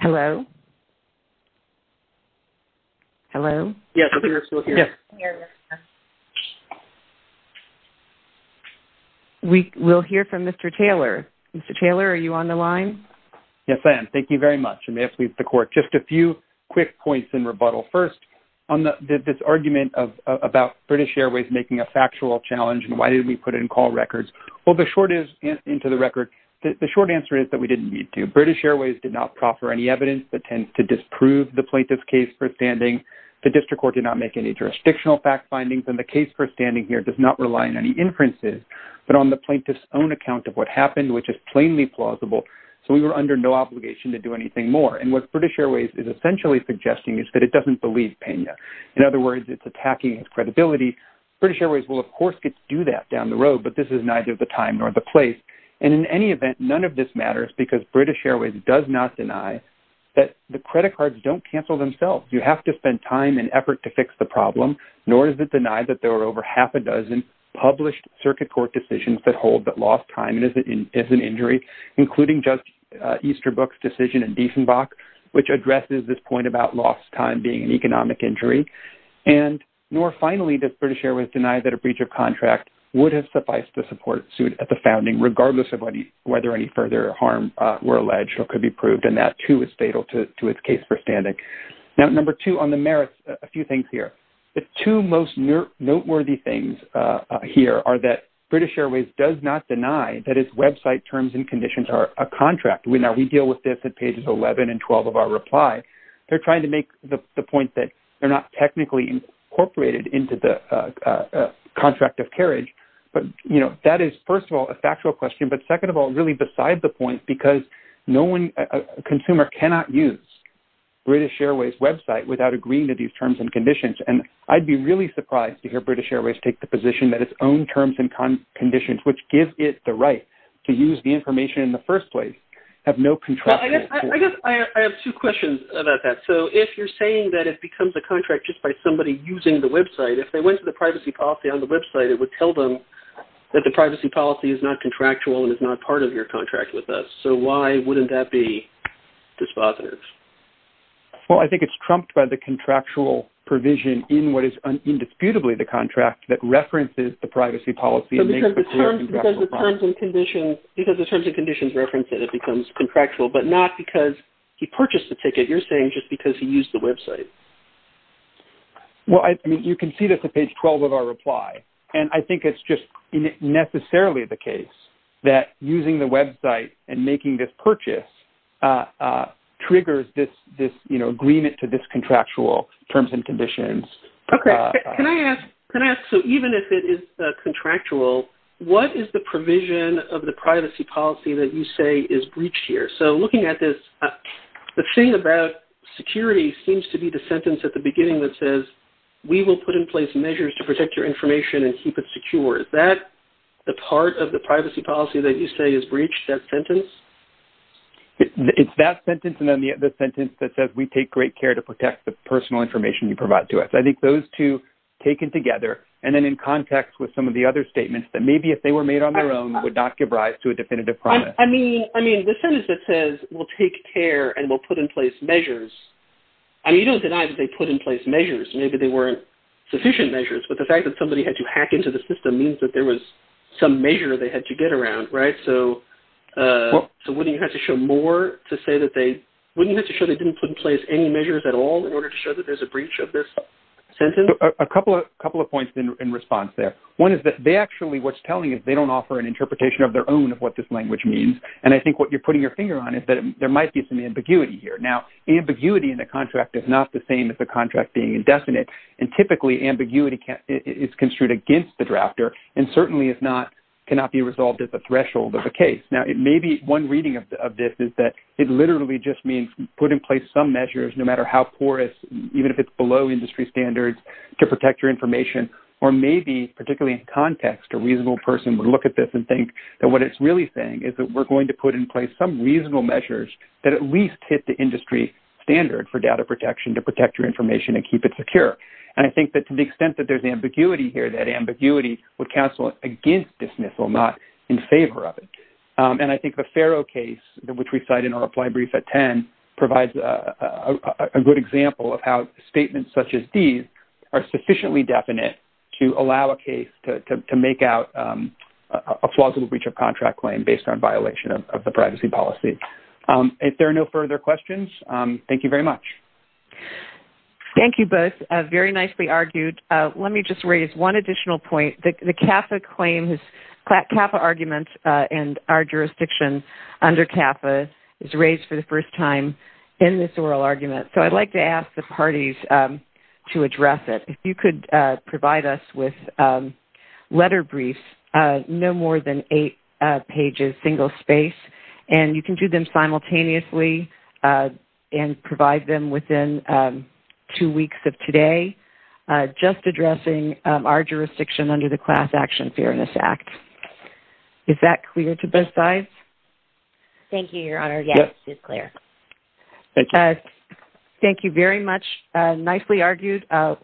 Hello? Hello? Yes, we are still here. We will hear from Mr. Taylor. Mr. Taylor, are you on the line? Yes, I am. Thank you very much. I may have to leave the court. Just a few quick points in rebuttal. First, on this argument about British Airways making a factual challenge and why didn't we put in call records. Well, the short answer is that we didn't need to. British Airways did not proffer any evidence that tends to disprove the plaintiff's case for standing. The district court did not make any jurisdictional fact findings, and the case for standing here does not rely on any inferences, but on the plaintiff's own account of what happened, which is plainly plausible. So we were under no obligation to do anything more. And what British Airways is essentially suggesting is that it doesn't believe Pena. In other words, it's attacking its credibility. British Airways will, of course, get to do that down the road, but this is neither the time nor the place. And in any event, none of this matters because British Airways does not deny that the credit cards don't cancel themselves. You have to spend time and effort to fix the problem. Nor is it denied that there were over half a dozen published circuit court decisions that hold that lost time is an injury, including Judge Easterbrook's decision in Diesenbach, which addresses this point about lost time being an economic injury. And nor finally does British Airways deny that a breach of contract would have sufficed to support suit at the founding, regardless of whether any further harm were alleged or could be proved, and that, too, is fatal to its case for standing. Now, number two on the merits, a few things here. The two most noteworthy things here are that British Airways does not deny that its website terms and conditions are a contract. Now, we deal with this at pages 11 and 12 of our reply. They're trying to make the point that they're not technically incorporated into the contract of carriage. But, you know, that is, first of all, a factual question, but second of all, really beside the point, because a consumer cannot use British Airways' website without agreeing to these terms and conditions, and I'd be really surprised to hear British Airways take the position that its own terms and conditions, which give it the right to use the information in the first place, have no contractual basis. I guess I have two questions about that. So if you're saying that it becomes a contract just by somebody using the website, if they went to the privacy policy on the website, it would tell them that the privacy policy is not contractual and is not part of your contract with us. So why wouldn't that be dispositors? Well, I think it's trumped by the contractual provision in what is indisputably the contract that references the privacy policy and makes the clear contractual promise. So because the terms and conditions reference it, it becomes contractual, but not because he purchased the ticket. You're saying just because he used the website. Well, I mean, you can see this at page 12 of our reply, and I think it's just necessarily the case that using the website and making this purchase triggers this agreement to this contractual terms and conditions. Okay. Can I ask, so even if it is contractual, what is the provision of the privacy policy that you say is breached here? So looking at this, the thing about security seems to be the sentence at the beginning that says, we will put in place measures to protect your information and keep it secure. Is that the part of the privacy policy that you say is breached, that sentence? It's that sentence and then the sentence that says, we take great care to protect the personal information you provide to us. I think those two taken together and then in context with some of the other statements that maybe if they were made on their own would not give rise to a definitive promise. I mean, the sentence that says, we'll take care and we'll put in place measures, I mean, you don't deny that they put in place measures. Maybe they weren't sufficient measures, but the fact that somebody had to hack into the system means that there was some measure they had to get around, right? So wouldn't you have to show more to say that they, wouldn't you have to show they didn't put in place any measures at all in order to show that there's a breach of this sentence? A couple of points in response there. One is that they actually, what's telling is they don't offer an interpretation of their own of what this language means, and I think what you're putting your finger on is that there might be some ambiguity here. Now, ambiguity in the contract is not the same as the contract being indefinite, and typically ambiguity is construed against the drafter and certainly cannot be resolved as a threshold of a case. Now, maybe one reading of this is that it literally just means put in place some measures, no matter how porous, even if it's below industry standards, to protect your information, or maybe, particularly in context, a reasonable person would look at this and think that what it's really saying is that we're going to put in place some reasonable measures that at least hit the industry standard for data protection to protect your information and keep it secure. And I think that to the extent that there's ambiguity here, that ambiguity would cancel against dismissal, not in favor of it. And I think the Farrow case, which we cite in our reply brief at 10, provides a good example of how statements such as these are sufficiently definite to allow a case to make out a plausible breach of contract claim based on violation of the privacy policy. If there are no further questions, thank you very much. Thank you both. Very nicely argued. Let me just raise one additional point. The CAFA claim, CAFA argument in our jurisdiction under CAFA, is raised for the first time in this oral argument, so I'd like to ask the parties to address it. If you could provide us with letter briefs, no more than eight pages, single space, and you can do them simultaneously and provide them within two weeks of today, just addressing our jurisdiction under the Class Action Fairness Act. Is that clear to both sides? Thank you, Your Honor. Yes, it's clear. Thank you very much. Nicely argued.